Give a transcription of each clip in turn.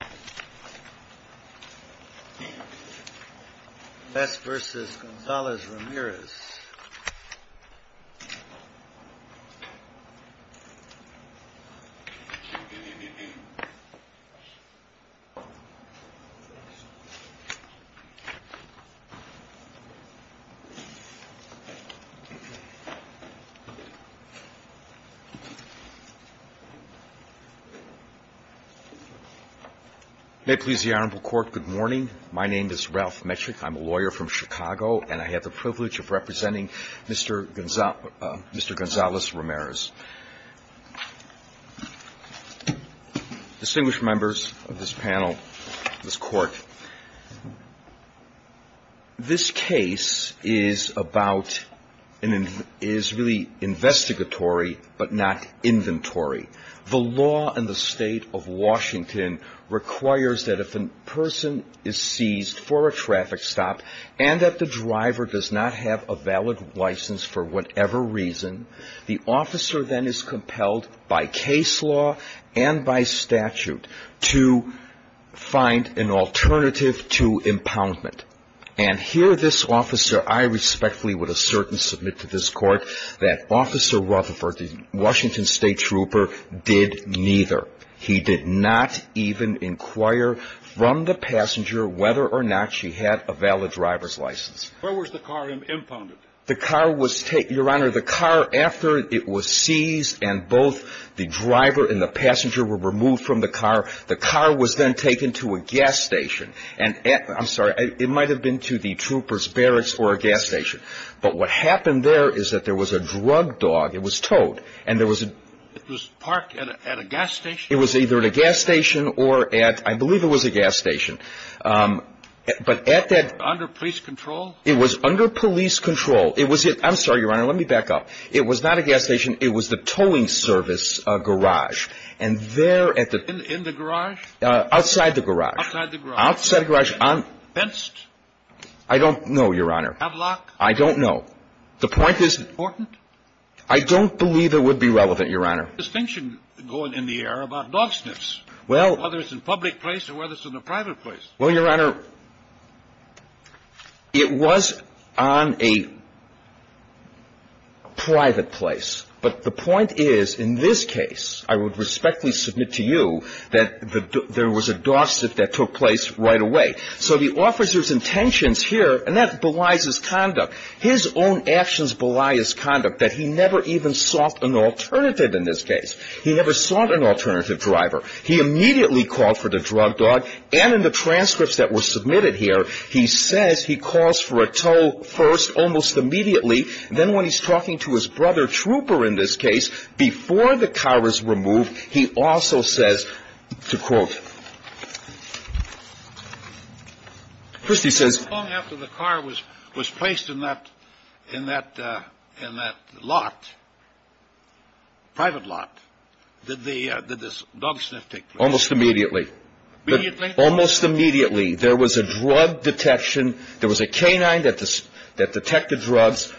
V. Gonzalez-Ramirez May it please the Honorable Court, good morning. My name is Ralph Metrick. I'm a lawyer from Chicago and I have the privilege of representing Mr. Gonzalez-Ramirez. Distinguished members of this panel, this Court, this case is about, is really investigatory but not inventory. The law in the state of Washington requires that if a person is seized for a traffic stop and that the driver does not have a valid license for whatever reason, the officer then is compelled by case law and by statute to find an alternative to impoundment. And here this officer, I respectfully would assert and submit to this Court that Officer Rutherford, the Washington State Trooper, did neither. He did not even inquire from the passenger whether or not she had a valid driver's license. Where was the car impounded? The car was, Your Honor, the car after it was seized and both the driver and the passenger were removed from the car, the car was then taken to a gas station. I'm sorry, it might have been to the trooper's barracks or a gas station. But what happened there is that there was a drug dog, it was towed, and there was a… It was parked at a gas station? It was either at a gas station or at, I believe it was a gas station. But at that… Under police control? It was under police control. It was at, I'm sorry, Your Honor, let me back up. It was not a gas station. It was the towing service garage. And there at the… In the garage? Outside the garage. Outside the garage. Outside the garage on… Fenced? I don't know, Your Honor. Have lock? I don't know. The point is… Was it important? I don't believe it would be relevant, Your Honor. There's a distinction going in the air about dog sniffs. Well… Whether it's in a public place or whether it's in a private place. Well, Your Honor, it was on a private place. But the point is, in this case, I would respectfully submit to you that there was a dog sniff that took place right away. So the officer's conduct, his own actions belie his conduct, that he never even sought an alternative in this case. He never sought an alternative driver. He immediately called for the drug dog. And in the transcripts that were submitted here, he says he calls for a tow first, almost immediately. Then when he's talking to his brother, Trooper, in this case, before the car was removed, he also says, to quote… First he says… Long after the car was placed in that lot, private lot, did this dog sniff take place? Almost immediately. Immediately? Almost immediately. There was a drug detection. There was a canine that detected drugs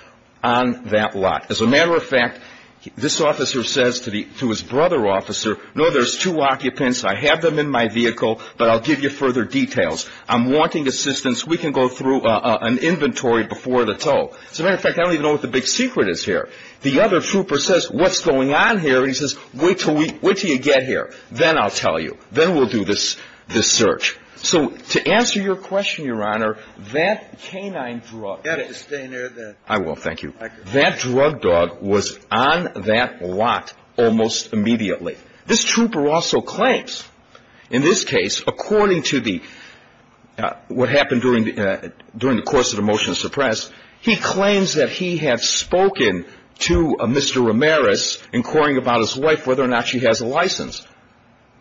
on that lot. As a matter of fact, this officer says to his brother officer, no, there's two occupants. I have them in my vehicle, but I'll give you further details. I'm wanting assistance. We can go through an inventory before the tow. As a matter of fact, I don't even know what the big secret is here. The other trooper says, what's going on here? And he says, wait till you get here. Then I'll tell you. Then we'll do this search. So to answer your question, Your Honor, that canine drug… You've got to stay near the… I will. Thank you. That drug dog was on that lot almost immediately. This trooper also to the, what happened during the course of the motion to suppress, he claims that he had spoken to Mr. Ramirez inquiring about his wife, whether or not she has a license.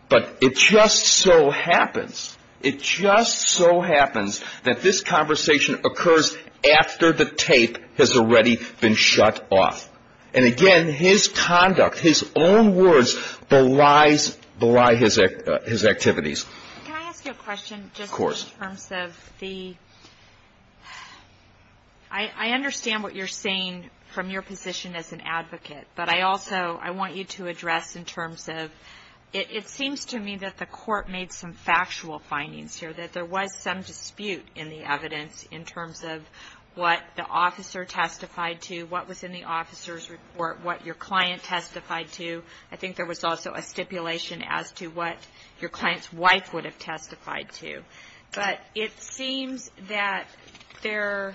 But it just so happens, it just so happens that this conversation occurs after the tape has already been shut off. And again, his conduct, his own words belies his activities. Can I ask you a question just in terms of the… I understand what you're saying from your position as an advocate, but I also, I want you to address in terms of, it seems to me that the court made some factual findings here, that there was some dispute in the evidence in terms of what the officer testified to, what was in the officer's report, what your client's wife would have testified to. But it seems that there,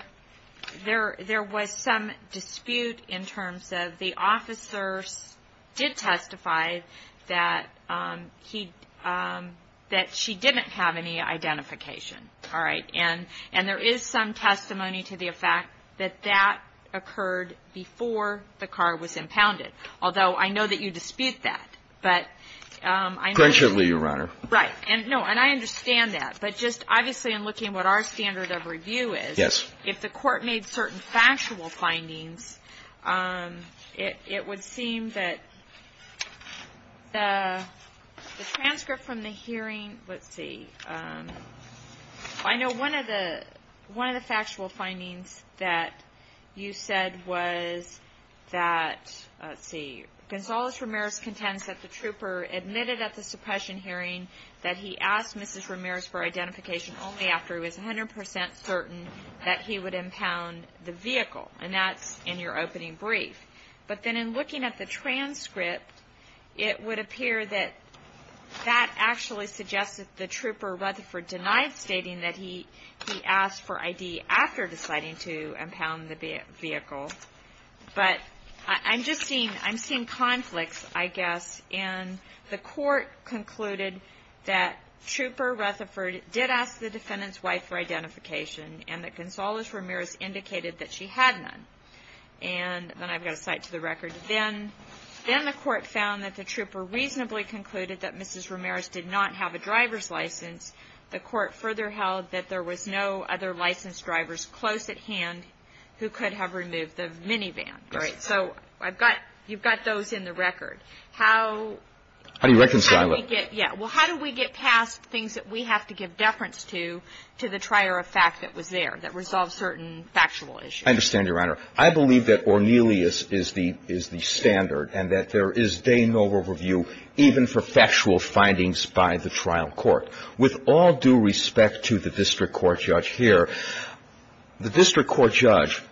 there was some dispute in terms of the officer did testify that he, that she didn't have any identification. All right. And there is some testimony to the effect that that occurred before the car was impounded. Although I know that you dispute that, but I know… Your Honor. Right. And no, and I understand that. But just obviously in looking at what our standard of review is… Yes. If the court made certain factual findings, it, it would seem that the, the transcript from the hearing, let's see, I know one of the, one of the factual findings that you said was that, let's see, Gonzales-Ramirez contends that the trooper admitted at the suppression hearing that he asked Mrs. Ramirez for identification only after he was 100 percent certain that he would impound the vehicle. And that's in your opening brief. But then in looking at the transcript, it would appear that, that actually suggested the trooper Rutherford denied stating that he, he asked for I.D. after deciding to impound the vehicle. But I, I'm just seeing, I'm seeing conflicts, I guess, in the court concluded that trooper Rutherford did ask the defendant's wife for identification and that Gonzales-Ramirez indicated that she had none. And then I've got to cite to the record, then, then the court found that the trooper reasonably concluded that Mrs. Ramirez did not have a driver's license. The court further held that there was no other licensed drivers close at hand who could have removed the minivan, right? So I've got, you've got those in the record. How do you reconcile it? Yeah. Well, how do we get past things that we have to give deference to, to the trier of fact that was there, that resolved certain factual issues? I understand, Your Honor. I believe that Ornelius is the, is the standard and that there is day no overview even for factual findings by the trial court. With all due respect to the district court judge here, the district court judge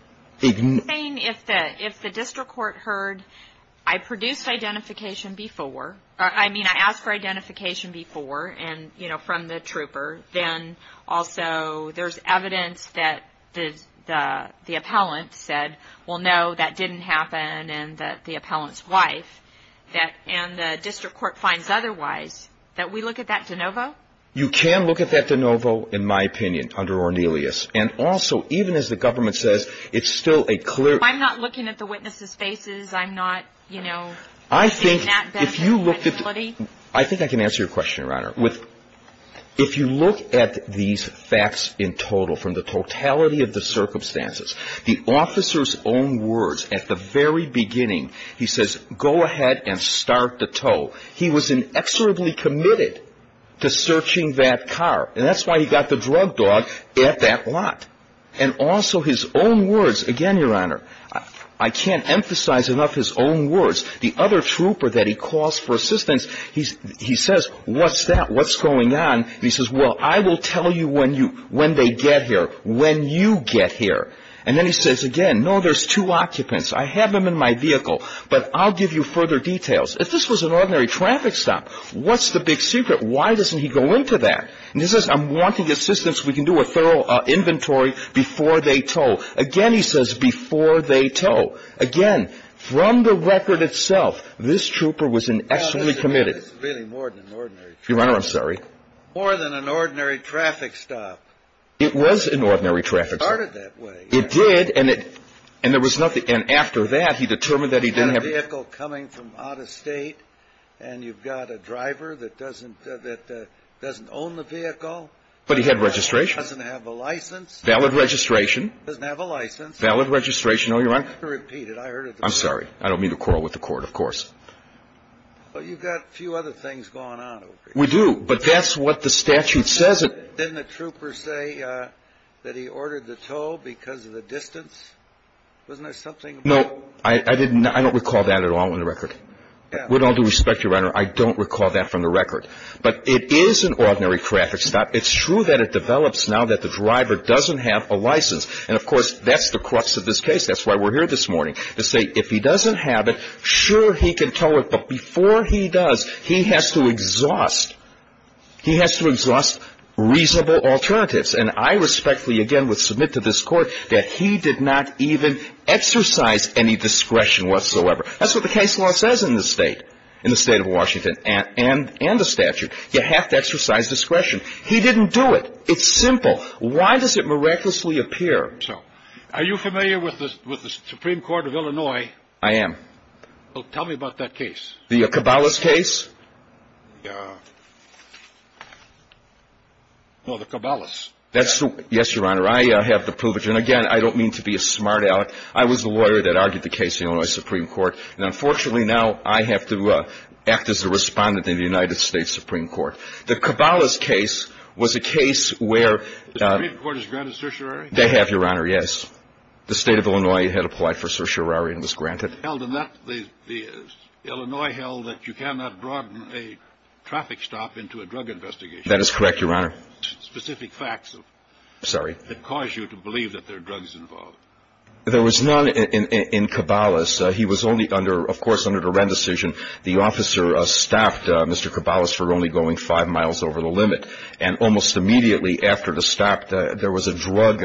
ignores... I'm saying if the, if the district court heard, I produced identification before, or I mean I asked for identification before and, you know, from the trooper, then also there's evidence that the, the, the appellant said, well, no, that didn't happen. And that the appellant's wife, that, and the district court finds otherwise, that we look at that de novo? You can look at that de novo, in my opinion, under Ornelius. And also, even as the government says, it's still a clear... If I'm not looking at the witnesses' faces, I'm not, you know... I think if you looked at... I think I can answer your question, Your Honor. With, if you look at these facts in total from the totality of the circumstances, the officer's own words at the very beginning, he says, go ahead and start the tow. He was inexorably committed to searching that car. And that's why he got the drug dog at that lot. And also his own words, again, Your Honor, I can't emphasize enough his own words. The other trooper that he calls for assistance, he says, what's that? What's going on? And he says, well, I will tell you when you, when they get here, when you get here. And then he says again, no, there's two occupants. I have them in my vehicle, but I'll give you further details. If this was an ordinary traffic stop, what's the big secret? Why doesn't he go into that? And he says, I'm wanting assistance. We can do a thorough inventory before they tow. Again, he says, before they tow. Again, from the record itself, this trooper was inexorably committed. That's really more than an ordinary traffic stop. Your Honor, I'm sorry. More than an ordinary traffic stop. It was an ordinary traffic stop. It started that way. It did. And it, and there was nothing. And after that, he determined that he didn't have a vehicle coming from out of state. And you've got a driver that doesn't, that doesn't own the vehicle. But he had registration. Doesn't have a license. Valid registration. Doesn't have a license. Valid registration. Oh, Your Honor, I'm sorry. I don't mean to quarrel with the court, of course. Well, you've got a few other things going on over here. We do. But that's what the statute says. Didn't the trooper say that he ordered the tow because of the distance? Wasn't there something? No, I didn't. I don't recall that at all in the record. With all due respect, Your Honor, I don't recall that from the record. But it is an ordinary traffic stop. It's true that it develops now that the driver doesn't have a license. And of course, that's the crux of this case. That's why we're here this morning to say, if he doesn't have it, sure, he can tow it. But before he does, he has to exhaust reasonable alternatives. And I respectfully, again, would submit to this court that he did not even exercise any discretion whatsoever. That's what the case law says in this state, in the state of Washington and the statute. You have to exercise discretion. He didn't do it. It's simple. Why does it miraculously appear so? Are you familiar with the Supreme Court of Illinois? I am. Well, tell me about that case. The Cabalas case? No, the Cabalas. Yes, Your Honor. I have the proof. And again, I don't mean to be a smart-aleck. I was the lawyer that argued the case in the Illinois Supreme Court. And unfortunately, now I have to act as the respondent in the United States Supreme Court. The Cabalas case was a case where — The Supreme Court has granted certiorari? They have, Your Honor, yes. The state of Illinois had applied for certiorari and was granted. It was held in that — the Illinois held that you cannot broaden a traffic stop into a drug investigation. That is correct, Your Honor. Specific facts — Sorry. — that cause you to believe that there are drugs involved. There was none in Cabalas. He was only under — of course, under the Wren decision. The officer stopped Mr. Cabalas for only going five miles over the limit. And almost immediately after the stop, there was a drug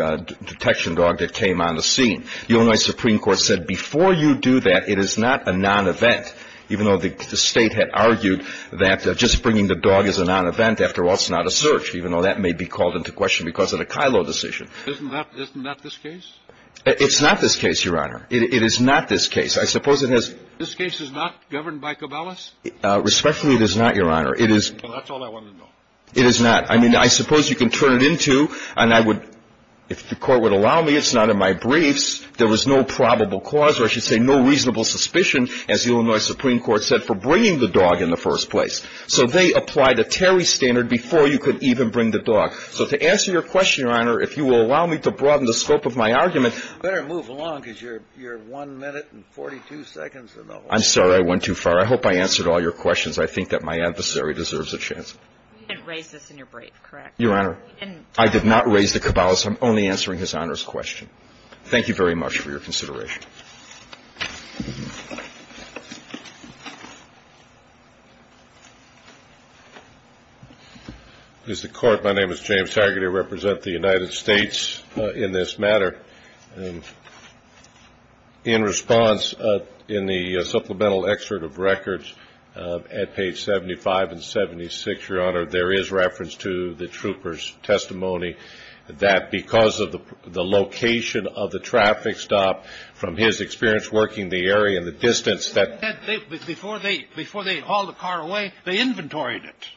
detection dog that came on the scene. The Illinois Supreme Court said, before you do that, it is not a non-event, even though the state had argued that just bringing the dog is a non-event. After all, it's not a search, even though that may be called into question because of the Kylo decision. Isn't that — isn't that this case? It's not this case, Your Honor. It is not this case. I suppose it has — This case is not governed by Cabalas? Respectfully, it is not, Your Honor. It is — Well, that's all I wanted to know. It is not. I mean, I suppose you can turn it into — and I would — if the Court would allow me, it's not in my briefs. There was no probable cause, or I should say no reasonable suspicion, as the Illinois Supreme Court said, for bringing the dog in the first place. So they applied a Terry standard before you could even bring the dog. So to answer your question, Your Honor, if you will allow me to broaden the scope of my argument — You better move along, because you're — you're one minute and 42 seconds in the whole — I'm sorry. I went too far. I hope I answered all your questions. I think that my adversary deserves a chance. You didn't raise this in your brief, correct? Your Honor, I did not raise the Cabalas. I'm only answering His Honor's question. Thank you very much for your consideration. Mr. Court, my name is James Hargitay. I represent the United States in this matter. In response, in the supplemental excerpt of records at page 75 and 76, Your Honor, there is reference to the trooper's testimony that because of the location of the traffic stop, from his experience working the area and the distance that — Before they hauled the car away, they inventoried it.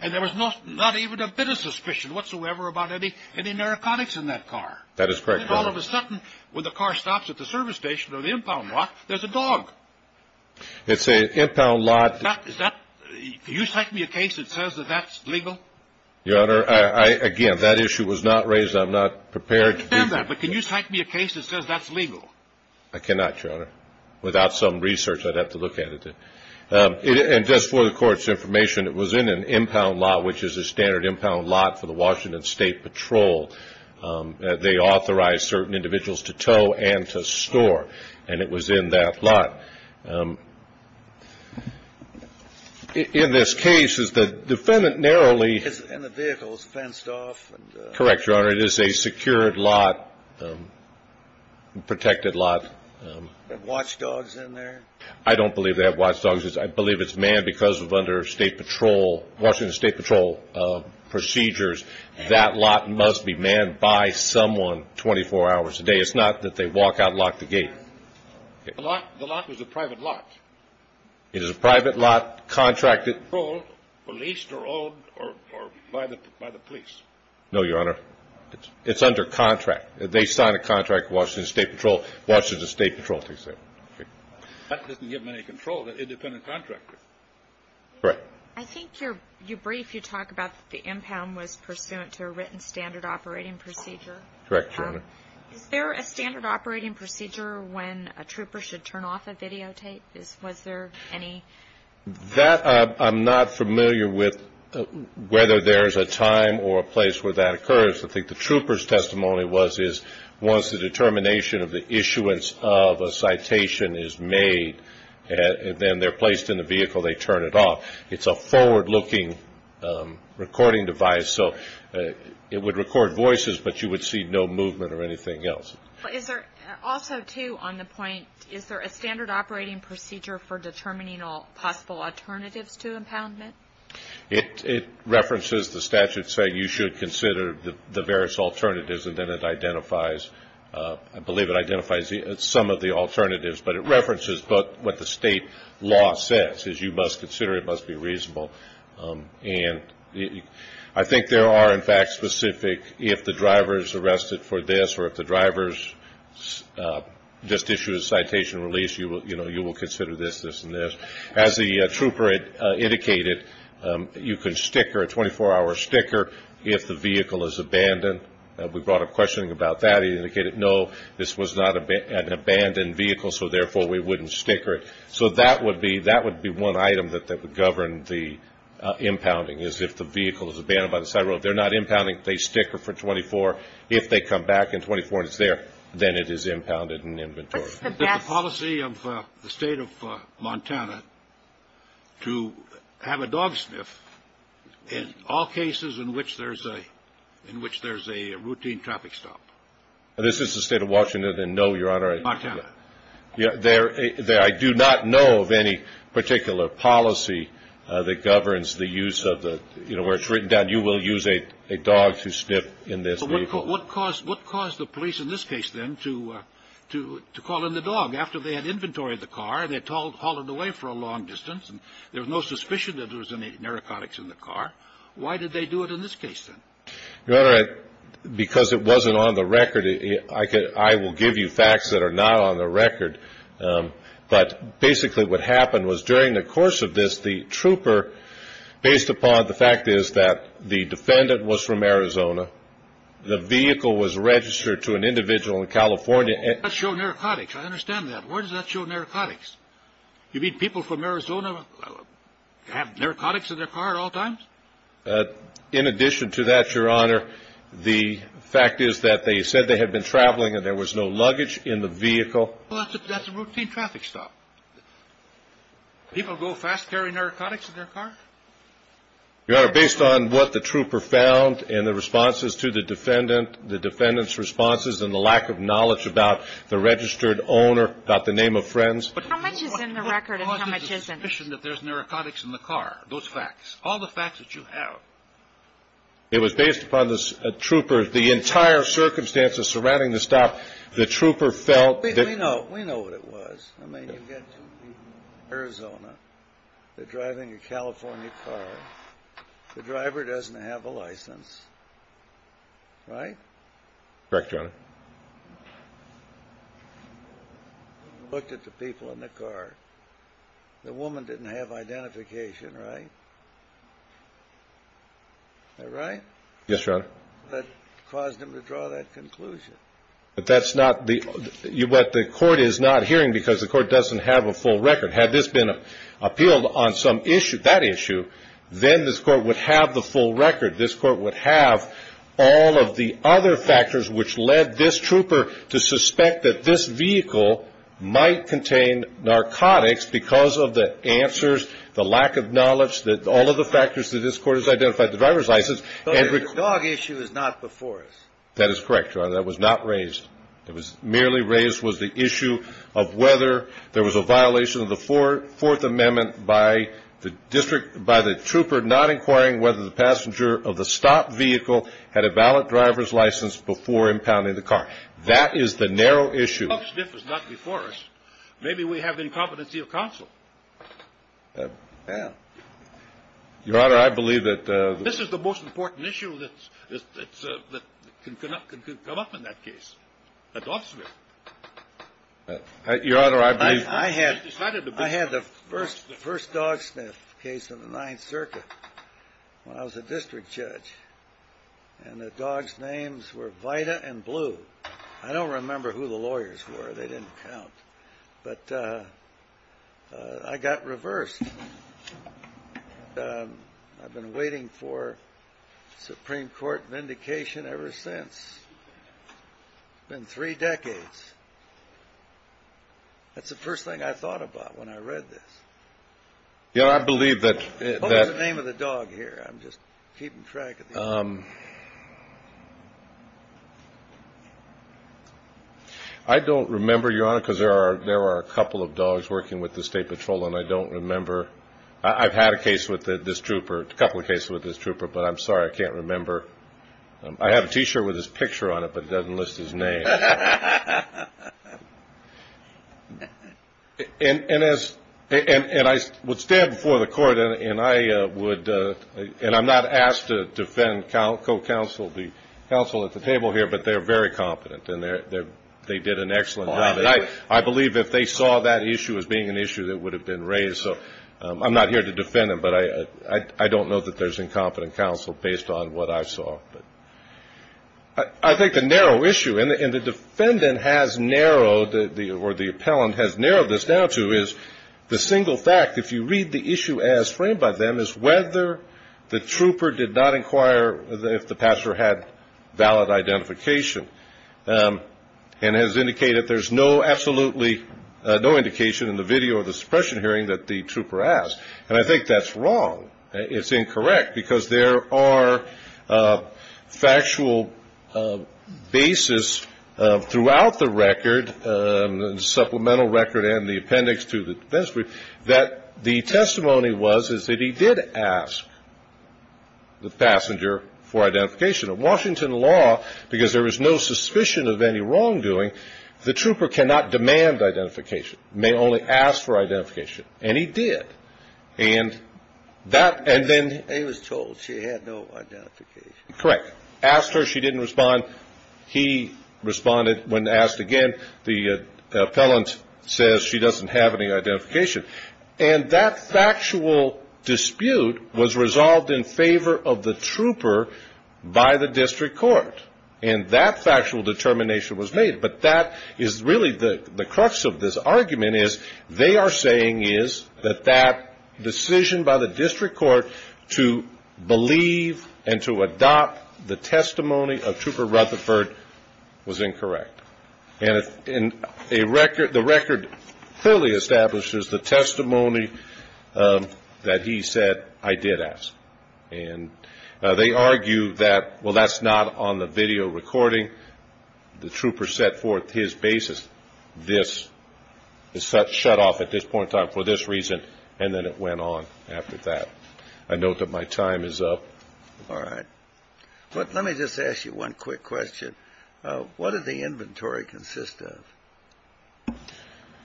And there was not even a bit of suspicion whatsoever about any narcotics in that car. That is correct, Your Honor. All of a sudden, when the car stops at the service station or the impound lot, there's a dog. It's an impound lot — Is that — can you cite me a case that says that that's legal? Your Honor, again, that issue was not raised. I'm not prepared to do — I understand that. But can you cite me a case that says that's legal? I cannot, Your Honor. Without some research, I'd have to look at it. And just for the Court's information, it was in an impound lot, which is a standard impound lot for the Washington State Patrol. They authorize certain individuals to tow and to In this case, is the defendant narrowly — And the vehicle is fenced off. Correct, Your Honor. It is a secured lot, protected lot. Have watchdogs in there? I don't believe they have watchdogs. I believe it's manned because of under State Patrol — Washington State Patrol procedures, that lot must be manned by someone 24 hours a day. It's not that they walk out and lock the gate. The lot was a private lot. It is a private lot, contracted — Controlled, or leased, or owned, or by the police. No, Your Honor. It's under contract. They sign a contract with Washington State Patrol, Washington State Patrol takes care of it. That doesn't give them any control. They're independent contractors. Correct. I think your brief, you talk about the impound was pursuant to a written standard operating procedure. Correct, Your Honor. Is there a standard operating procedure when a trooper should turn off a videotape? Was there any — That, I'm not familiar with whether there's a time or a place where that occurs. I think the trooper's testimony was, is once the determination of the issuance of a citation is made, then they're placed in the vehicle, they turn it off. It's a forward-looking recording device, so it would record voices, but you would see no movement or anything else. But is there — also, too, on the point, is there a standard operating procedure for determining all possible alternatives to impoundment? It references the statute saying you should consider the various alternatives, and then it identifies — I believe it identifies some of the alternatives, but it references what the state law says, is you must consider it, it must be reasonable. And I think there are, in fact, specific — if the driver's arrested for this, or if the driver's just issued a citation release, you will consider this, this, and this. As the trooper indicated, you can sticker, a 24-hour sticker, if the vehicle is abandoned. We brought up questioning about that. He indicated, no, this was not an abandoned vehicle, so therefore we wouldn't sticker it. So that would be — that would be one item that would govern the impounding, is if the vehicle is abandoned by the side road. They're not impounding, they sticker for 24. If they come back in 24 and it's there, then it is impounded in inventory. But the policy of the state of Montana to have a dog sniff in all cases in which there's a — in which there's a routine traffic stop. This is the state of Washington, and no, Your Honor, I — Montana. There — I do not know of any particular policy that governs the use of the — you know, where it's written down, you will use a dog to sniff in this vehicle. What caused the police in this case, then, to call in the dog? After they had inventory of the car, they hauled it away for a long distance, and there was no suspicion that there was any narcotics in the car. Why did they do it in this case, then? Your Honor, because it wasn't on the record. I will give you facts that are not on the record, but basically what happened was during the course of this, the trooper, based upon the fact is that the defendant was from Arizona, the vehicle was registered to an individual in California — That showed narcotics. I understand that. Why does that show narcotics? You mean people from Arizona have narcotics in their car at all times? In addition to that, Your Honor, the fact is that they said they had been traveling and there was no luggage in the vehicle. Well, that's a routine traffic stop. People go fast-carry narcotics in their car? Your Honor, based on what the trooper found and the responses to the defendant, the defendant's responses and the lack of knowledge about the registered owner, about the name of friends — How much is in the record and how much isn't? — suspicion that there's narcotics in the car. Those facts. All the facts that you have. It was based upon the trooper — the entire circumstances surrounding the stop, the trooper felt that — We know. We know what it was. I mean, you've got two people in Arizona. They're driving a California car. The driver doesn't have a license, right? Correct, Your Honor. Looked at the people in the car. The woman didn't have identification, right? Am I right? Yes, Your Honor. That caused him to draw that conclusion. But that's not the — what the Court is not hearing because the Court doesn't have a full record. Had this been appealed on some issue, that issue, then this Court would have the full record. This Court would have all of the other factors which led this trooper to suspect that this vehicle that all of the factors that this Court has identified, the driver's license — But the dog issue is not before us. That is correct, Your Honor. That was not raised. It was — merely raised was the issue of whether there was a violation of the Fourth Amendment by the district — by the trooper not inquiring whether the passenger of the stopped vehicle had a valid driver's license before impounding the car. That is the narrow issue. The dog sniff is not before us. Maybe we have incompetency of counsel. Your Honor, I believe that — This is the most important issue that can come up in that case, the dog sniff. Your Honor, I believe — I had the first dog sniff case in the Ninth Circuit when I was a district judge. And the dogs' names were Vita and Blue. I don't remember who the lawyers were. They didn't count. But I got reversed. I've been waiting for Supreme Court vindication ever since. It's been three decades. That's the first thing I thought about when I read this. Your Honor, I believe that — What was the name of the dog here? I'm just keeping track of the — I don't remember, Your Honor, because there are a couple of dogs working with the State Patrol, and I don't remember — I've had a case with this trooper, a couple of cases with this trooper, but I'm sorry, I can't remember. I have a T-shirt with his picture on it, but it doesn't list his name. And I would stand before the court, and I would — I would stand before the court and co-counsel the counsel at the table here, but they're very competent, and they did an excellent job. And I believe if they saw that issue as being an issue that would have been raised. So I'm not here to defend them, but I don't know that there's incompetent counsel based on what I saw. I think the narrow issue — and the defendant has narrowed — or the appellant has narrowed this down to — is the single fact, if you read the issue as framed by them, is whether the trooper did not inquire if the pastor had valid identification, and has indicated there's no absolutely — no indication in the video of the suppression hearing that the trooper asked. And I think that's wrong. It's incorrect, because there are factual basis throughout the record, supplemental record and the appendix to the defense brief, that the testimony was is that he did ask the passenger for identification. In Washington law, because there is no suspicion of any wrongdoing, the trooper cannot demand identification. May only ask for identification. And he did. And that — and then — He was told she had no identification. Correct. Asked her. She didn't respond. He responded. When asked again, the appellant says she doesn't have any identification. And that factual dispute was resolved in favor of the trooper by the district court. And that factual determination was made. But that is really the crux of this argument, is they are saying is that that decision by the district court to believe and to adopt the testimony of Trooper Rutherford was incorrect. And the record clearly establishes the testimony that he said I did ask. And they argue that, well, that's not on the video recording. The trooper set forth his basis. This is shut off at this point in time for this reason. And then it went on after that. I note that my time is up. All right. But let me just ask you one quick question. What does the inventory consist of?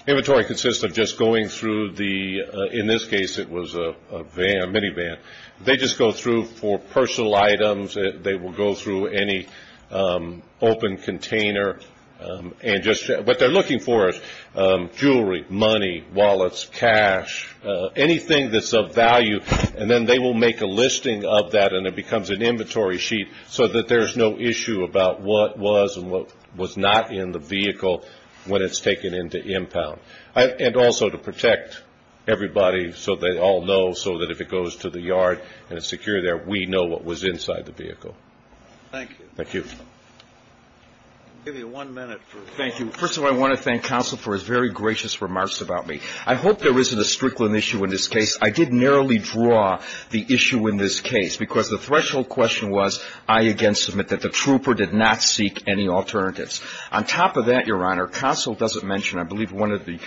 Inventory consists of just going through the — in this case, it was a van, minivan. They just go through for personal items. They will go through any open container and just — what they're looking for is jewelry, money, wallets, cash, anything that's of value. And then they will make a listing of that. And it becomes an inventory sheet so that there's no issue about what was and what was not in the vehicle when it's taken into impound. And also to protect everybody so they all know, so that if it goes to the yard and it's secure there, we know what was inside the vehicle. Thank you. Thank you. I'll give you one minute for — Thank you. First of all, I want to thank Counsel for his very gracious remarks about me. I hope there isn't a strickland issue in this case. I did narrowly draw the issue in this case because the threshold question was, I again submit that the trooper did not seek any alternatives. On top of that, Your Honor, Counsel doesn't mention — I believe one of the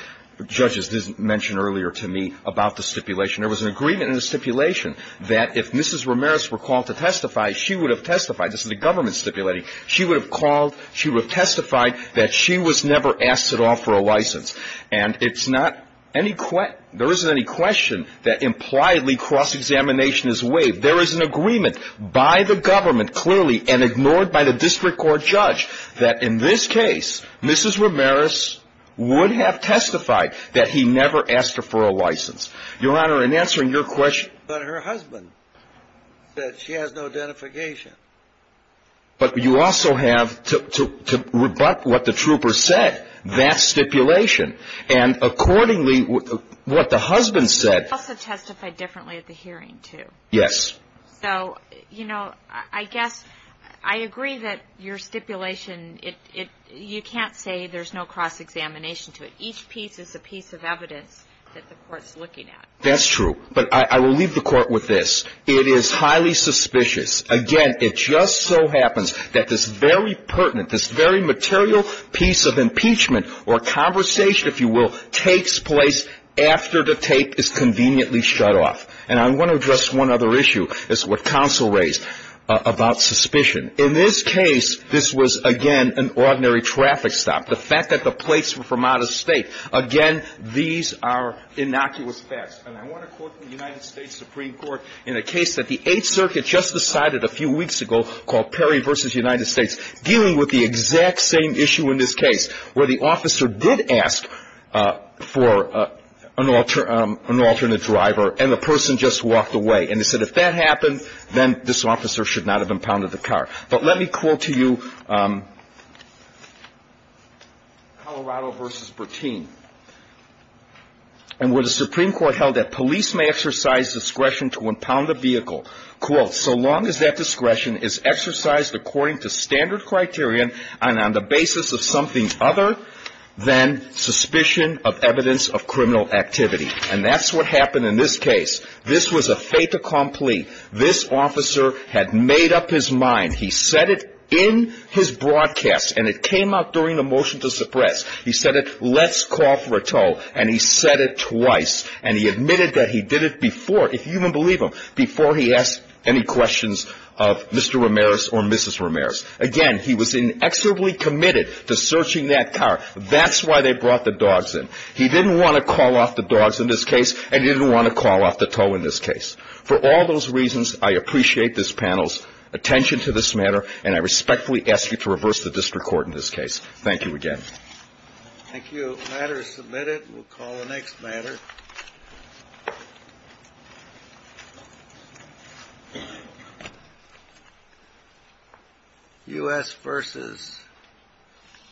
judges mentioned earlier to me about the stipulation. There was an agreement in the stipulation that if Mrs. Ramirez were called to testify, she would have testified — this is the government stipulating — she would have called — she would have testified that she was never asked at all for a license. And it's not any — there isn't any question that impliedly cross-examination is waived. There is an agreement by the government, clearly, and ignored by the district court judge that in this case, Mrs. Ramirez would have testified that he never asked her for a license. Your Honor, in answering your question — But her husband said she has no identification. But you also have, to rebut what the trooper said, that stipulation. And accordingly, what the husband said — He also testified differently at the hearing, too. Yes. So, you know, I guess I agree that your stipulation, it — you can't say there's no cross-examination to it. Each piece is a piece of evidence that the court's looking at. That's true. But I will leave the court with this. It is highly suspicious. Again, it just so happens that this very pertinent, this very material piece of impeachment or conversation, if you will, takes place after the tape is conveniently shut off. And I want to address one other issue. It's what counsel raised about suspicion. In this case, this was, again, an ordinary traffic stop. The fact that the plates were from out of state. Again, these are innocuous facts. And I want to quote the United States Supreme Court in a case that the Eighth Circuit just decided a few weeks ago called Perry v. United States, dealing with the exact same issue in this case, where the officer did ask for an alternate driver, and the person just walked away. And they said, if that happened, then this officer should not have impounded the car. But let me quote to you Colorado v. Bertin. And where the Supreme Court held that police may exercise discretion to impound a vehicle, quote, so long as that discretion is exercised according to standard criterion and on the basis of something other than suspicion of evidence of criminal activity. And that's what happened in this case. This was a fait accompli. This officer had made up his mind. He said it in his broadcast, and it came out during the motion to suppress. He said it, let's call for a tow. And he said it twice. And he admitted that he did it before. If you even believe him, before he asked any questions of Mr. Ramirez or Mrs. Ramirez. Again, he was inexorably committed to searching that car. That's why they brought the dogs in. He didn't want to call off the dogs in this case, and he didn't want to call off the tow in this case. For all those reasons, I appreciate this panel's attention to this matter, and I respectfully ask you to reverse the district court in this case. Thank you again. Thank you. The matter is submitted. We'll call the next matter. U.S. versus.